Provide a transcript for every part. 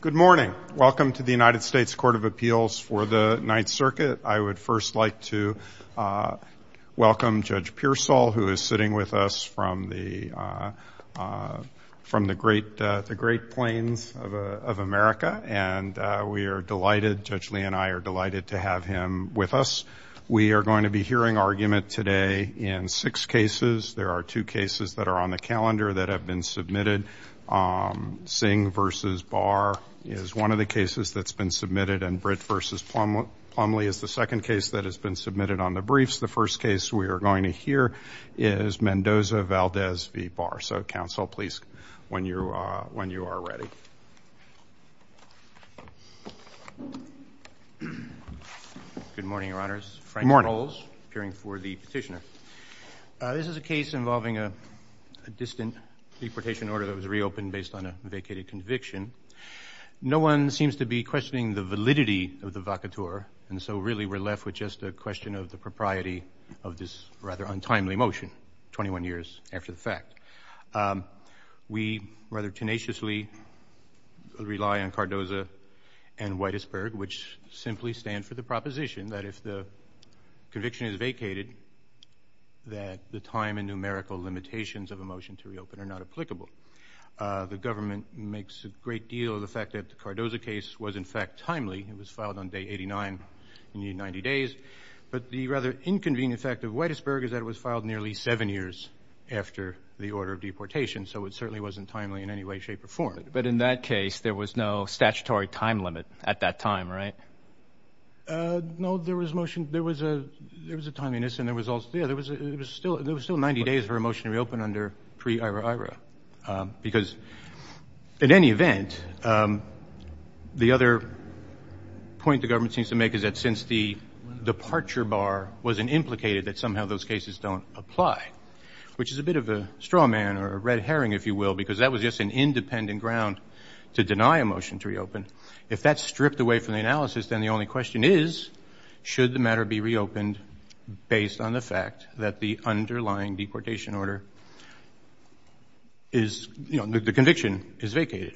Good morning. Welcome to the United States Court of Appeals for the Ninth Circuit. I would first like to welcome Judge Pearsall who is sitting with us from the from the great the Great Plains of America and we are delighted Judge Lee and I are delighted to have him with us. We are going to be hearing argument today in six cases. There are two cases that are on the calendar that have been submitted. Singh v. Barr is one of the cases that's been submitted and Britt v. Plumlee is the second case that has been submitted on the briefs. The first case we are going to hear is Mendoza-Valdez v. Barr. So counsel, please when you are ready. Good morning, Your Honors. Frank Rowles, appearing for the petitioner. This is a case involving a distant deportation order that was reopened based on a vacated conviction. No one seems to be questioning the validity of the vacateur and so really we're left with just a question of the propriety of this rather untimely motion, 21 years after the fact. We rather tenaciously rely on Cardoza and Whitesburg which simply stand for the proposition that if the conviction is nullified, then the numerical limitations of a motion to reopen are not applicable. The government makes a great deal of the fact that the Cardoza case was in fact timely. It was filed on day 89 in the 90 days but the rather inconvenient fact of Whitesburg is that it was filed nearly seven years after the order of deportation so it certainly wasn't timely in any way shape or form. But in that case there was no statutory time limit at that time, right? No, there was motion there was a there was a timeliness and there was also there was still there was still 90 days for a motion to reopen under pre-Ira-Ira because in any event the other point the government seems to make is that since the departure bar wasn't implicated that somehow those cases don't apply which is a bit of a straw man or a red herring if you will because that was just an independent ground to deny a motion to reopen. If that's stripped away from the analysis then the only question is should the matter be reopened based on the fact that the underlying deportation order is you know the conviction is vacated.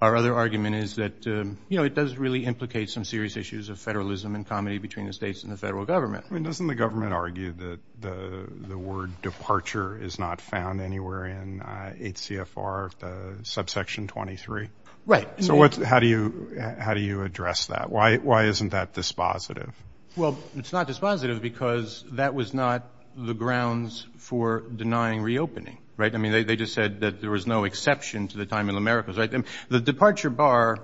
Our other argument is that you know it does really implicate some serious issues of federalism and comedy between the states and the federal government. I mean doesn't the government argue that the the word departure is not found anywhere in 8 CFR subsection 23? Right. So what's how do you how do you address that? Why why isn't that dispositive? Well it's not dispositive because that was not the grounds for denying reopening right I mean they just said that there was no exception to the time in America's right and the departure bar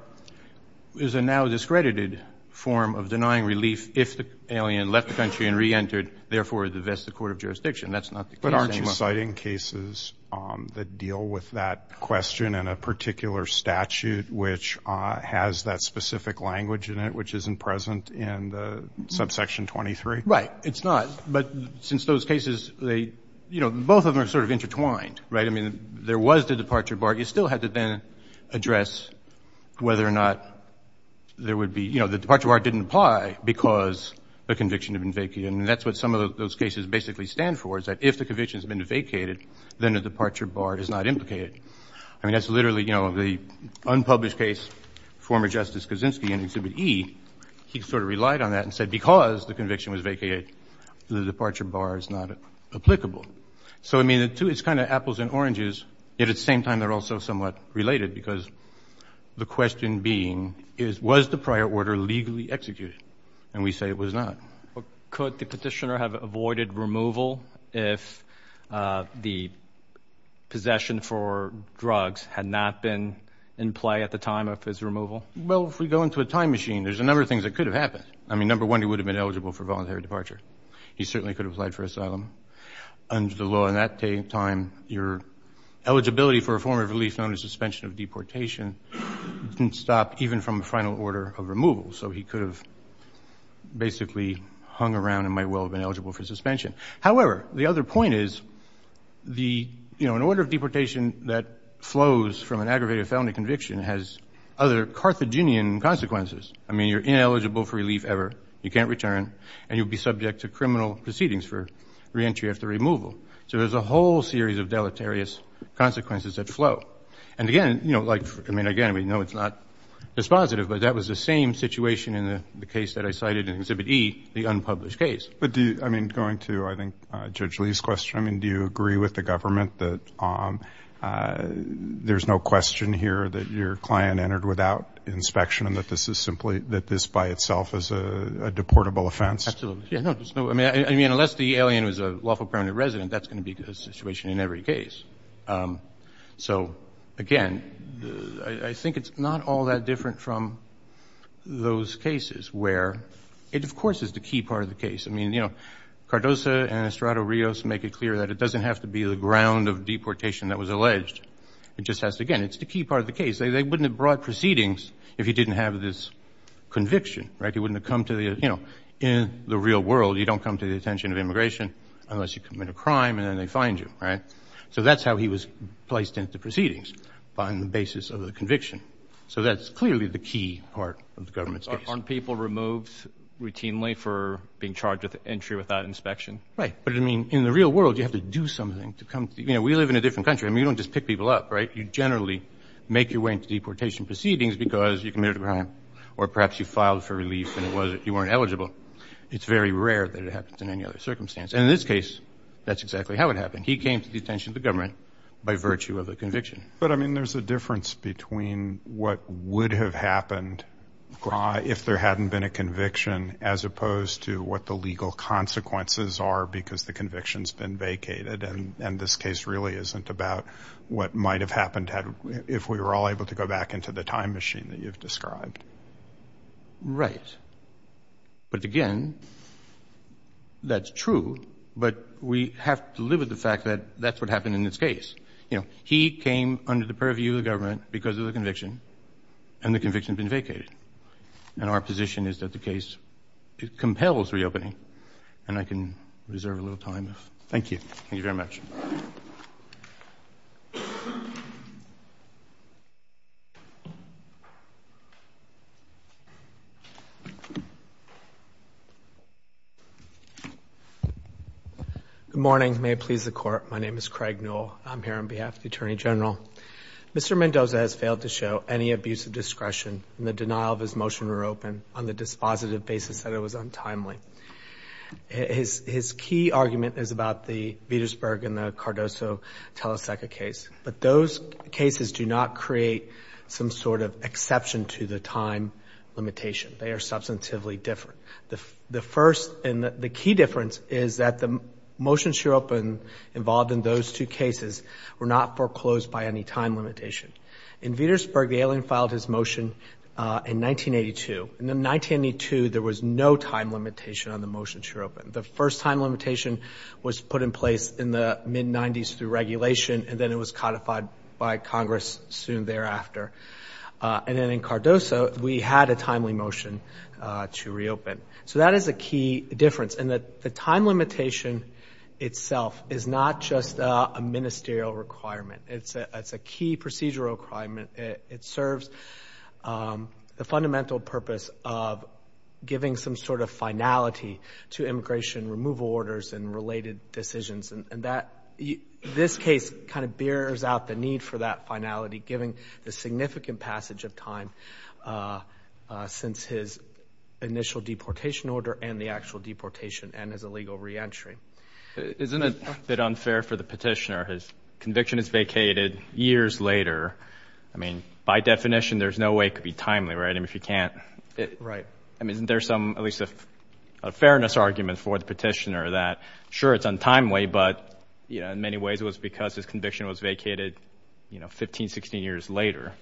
is a now discredited form of denying relief if the alien left the country and re-entered therefore the Vesta Court of Jurisdiction that's not the case. But aren't you citing cases that deal with that question and a particular statute which has that specific language in it which isn't present in the subsection 23? Right it's not but since those cases they you know both of them are sort of intertwined right I mean there was the departure bar you still had to then address whether or not there would be you know the departure bar didn't apply because the conviction had been vacated and that's what some of those cases basically stand for is that if the conviction has been vacated then the departure bar is not implicated. I mean that's literally you know the unpublished case former Justice Kaczynski in Exhibit E he sort of relied on that and said because the conviction was vacated the departure bar is not applicable. So I mean the two it's kind of apples and oranges at the same time they're also somewhat related because the question being is was the prior order legally executed and we say it was not. Could the petitioner have avoided removal if the possession for drugs had not been in play at the time of his removal? Well if we go into a time machine there's a number of things that could have happened. I mean number one he would have been eligible for voluntary departure. He certainly could have applied for asylum. Under the law in that time your eligibility for a form of relief known as suspension of deportation didn't stop even from a final order of removal so he could have basically hung around and might well have been eligible for suspension. However the other point is the you know in order of deportation that flows from an aggravated felony conviction has other Carthaginian consequences. I mean you're ineligible for relief ever. You can't return and you'll be subject to criminal proceedings for re-entry after removal. So there's a whole series of deleterious consequences that flow and again you know like I mean again we know it's not dispositive but that was the same situation in the case that I cited in Exhibit E, the unpublished case. But do you I mean going to I think Judge Lee's question I mean do you agree with the government that there's no question here that your client entered without inspection and that this is simply that this by itself is a deportable offense? I mean unless the alien was a lawful permanent resident that's going to be a situation in every case. So again I think it's not all that different from those cases where it of course is the key part of the case. I mean you know Cardoza and Estrado Rios make it clear that it doesn't have to be the ground of deportation that was alleged. It just has to again it's the key part of the case. They wouldn't have brought proceedings if he didn't have this conviction right. He wouldn't have come to the you know in the real world you don't come to the attention of immigration unless you commit a crime and then they find you right. So that's how he was placed into proceedings on the basis of the conviction. So that's clearly the key part of the government's case. Aren't people removed routinely for being charged with entry without inspection? Right but I mean in the real world you have to do something to come you know we live in a different country. I mean you don't just pick people up right. You generally make your way into deportation proceedings because you committed a crime or perhaps you filed for relief and it was it you weren't eligible. It's very rare that it happens in any other circumstance and in this case that's exactly how it happened. He came to attention of the government by virtue of the conviction. But I mean there's a difference between what would have happened if there hadn't been a conviction as opposed to what the legal consequences are because the convictions been vacated and and this case really isn't about what might have happened had if we were all able to go back into the time machine that you've described. Right but again that's true but we have to live with the fact that that's what happened in this case. You know he came under the purview of the government because of the conviction and the conviction has been vacated and our position is that the case it compels reopening and I can reserve a little time. Thank you. Thank you very much. Good morning. May it please the court. My name is Craig Newell. I'm here on behalf of the Attorney General. Mr. Mendoza has failed to show any abuse of discretion and the denial of his motion were open on the dispositive basis that it was untimely. His key argument is about the Vietasburg and the Cardoso-Teleseca case but those cases do not create some sort of exception to the time limitation. They are substantively different. The first and the key difference is that the motion should open involved in those two cases were not foreclosed by any time limitation. In Vietasburg, the alien filed his motion in 1982. In 1992, there was no time limitation on the motion to reopen. The first time limitation was put in place in the mid 90s through regulation and then it was codified by Congress soon thereafter. And then in Cardoso, we had a timely motion to reopen. So that is a key difference and that the time limitation itself is not just a ministerial requirement. It's a key procedural requirement. It serves the fundamental purpose of giving some sort of finality to immigration removal orders and related decisions and that this case kind of bears out the need for that finality given the significant passage of time since his initial deportation order and the actual deportation and his illegal re-entry. Isn't it a bit unfair for the petitioner? His conviction is vacated years later. I mean, by definition, there's no way it could be timely, right? I mean, if you can't... I mean, isn't there some, at least a fairness argument for the petitioner that sure it's untimely but, you know, in many ways it was because his conviction was vacated, you know, 15, 16 years later.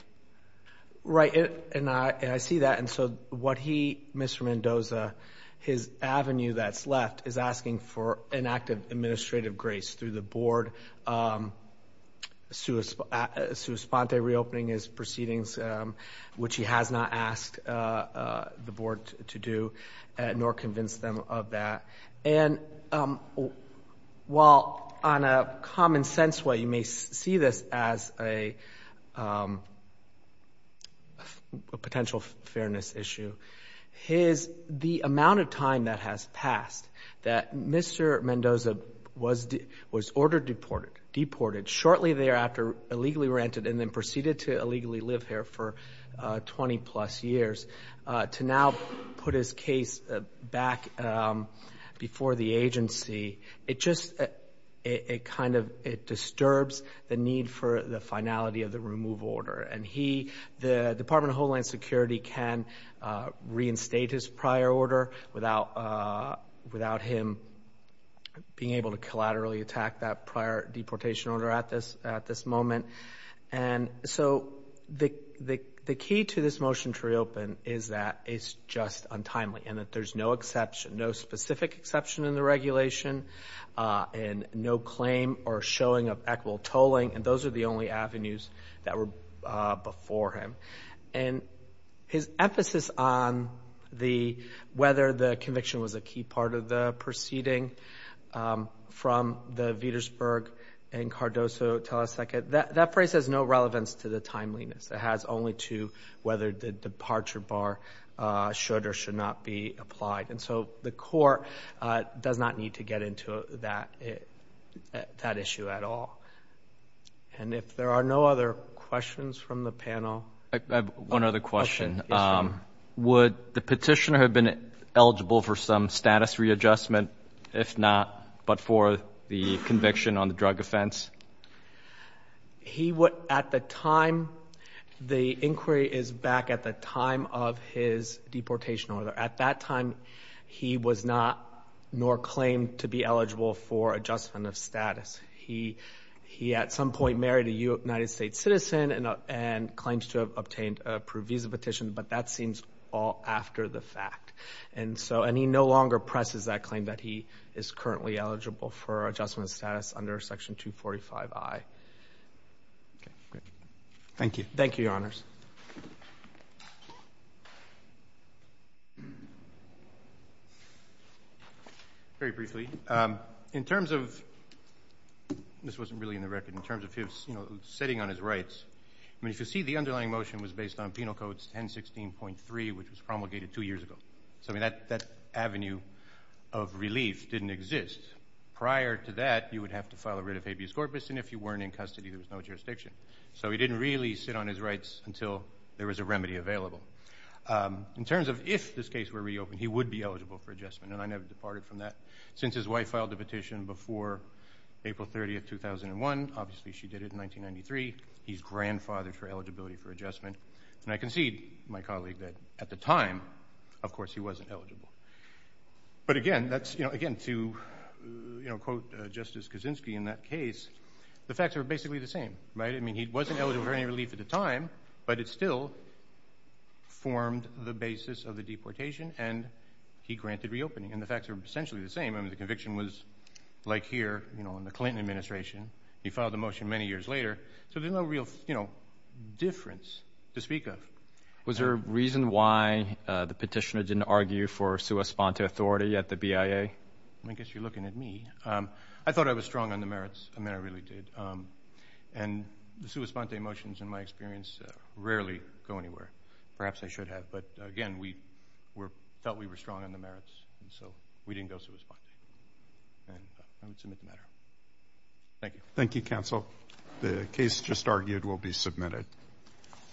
Right, and I see that. And so what he, Mr. Mendoza, his avenue that's left is asking for an act of administrative grace through the board. Sue Esponte reopening his proceedings, which he has not asked the board to do, nor convinced them of that. And while on a common sense way, you may see this as a potential fairness issue. His, the amount of time that has passed that Mr. Mendoza was ordered deported, deported shortly thereafter, illegally rented and then proceeded to illegally live here for 20 plus years. To now put his case back before the agency, it just, it kind of, it disturbs the need for the finality of the remove order. And he, the Department of Homeland Security can reinstate his prior order without, without him being able to collaterally attack that prior deportation order at this, at this moment. And so the, the, the key to this motion to reopen is that it's just untimely and that there's no exception, no specific exception in the regulation and no claim or showing of equitable tolling. And those are the only avenues that were before him. And his emphasis on the, whether the conviction was a key part of the that phrase has no relevance to the timeliness. It has only to whether the departure bar should or should not be applied. And so the court does not need to get into that, that issue at all. And if there are no other questions from the panel. I have one other question. Would the petitioner have been eligible for some status readjustment? If not, but for the conviction on the drug offense? He would, at the time, the inquiry is back at the time of his deportation order. At that time, he was not, nor claimed to be eligible for adjustment of status. He, he at some point married a United States citizen and, and claimed to have obtained approved visa petition, but that seems all after the fact. And so, and he no longer presses that claim that he is currently eligible for adjustment of status under section 245I. Okay, great. Thank you. Thank you, your honors. Very briefly. Um, in terms of, this wasn't really in the record in terms of his, you know, sitting on his rights. I mean, if you see the underlying motion was based on penal codes 1016.3, which was promulgated two years ago. So I mean, that, that avenue of relief didn't exist. Prior to that, you would have to file a writ of habeas corpus, and if you weren't in custody, there was no jurisdiction. So he didn't really sit on his rights until there was a remedy available. In terms of if this case were reopened, he would be eligible for adjustment, and I never departed from that since his wife filed the petition before April 30th, 2001. Obviously, she did it in 1993. He's grandfathered for eligibility for adjustment. And I concede, my colleague, that at the time, of course, he wasn't eligible. But again, that's, you know, again, to, you know, quote Justice Kaczynski in that case, the facts are basically the same, right? I mean, he wasn't eligible for any relief at the time, but it still formed the basis of the deportation, and he granted reopening. And the facts are essentially the same. I mean, the conviction was like here, you know, in the Clinton administration. He filed the motion many years later. So there's no real, you know, difference to speak of. Was there a reason why the petitioner didn't argue for sua sponte authority at the BIA? I guess you're looking at me. I thought I was strong on the merits. I mean, I really did. And the sua sponte motions, in my experience, rarely go anywhere. Perhaps I should have. But again, we were, felt we were strong on the merits, and so we didn't go sua sponte. And I would submit the matter. Thank you. Thank you, counsel. The case just argued will be submitted.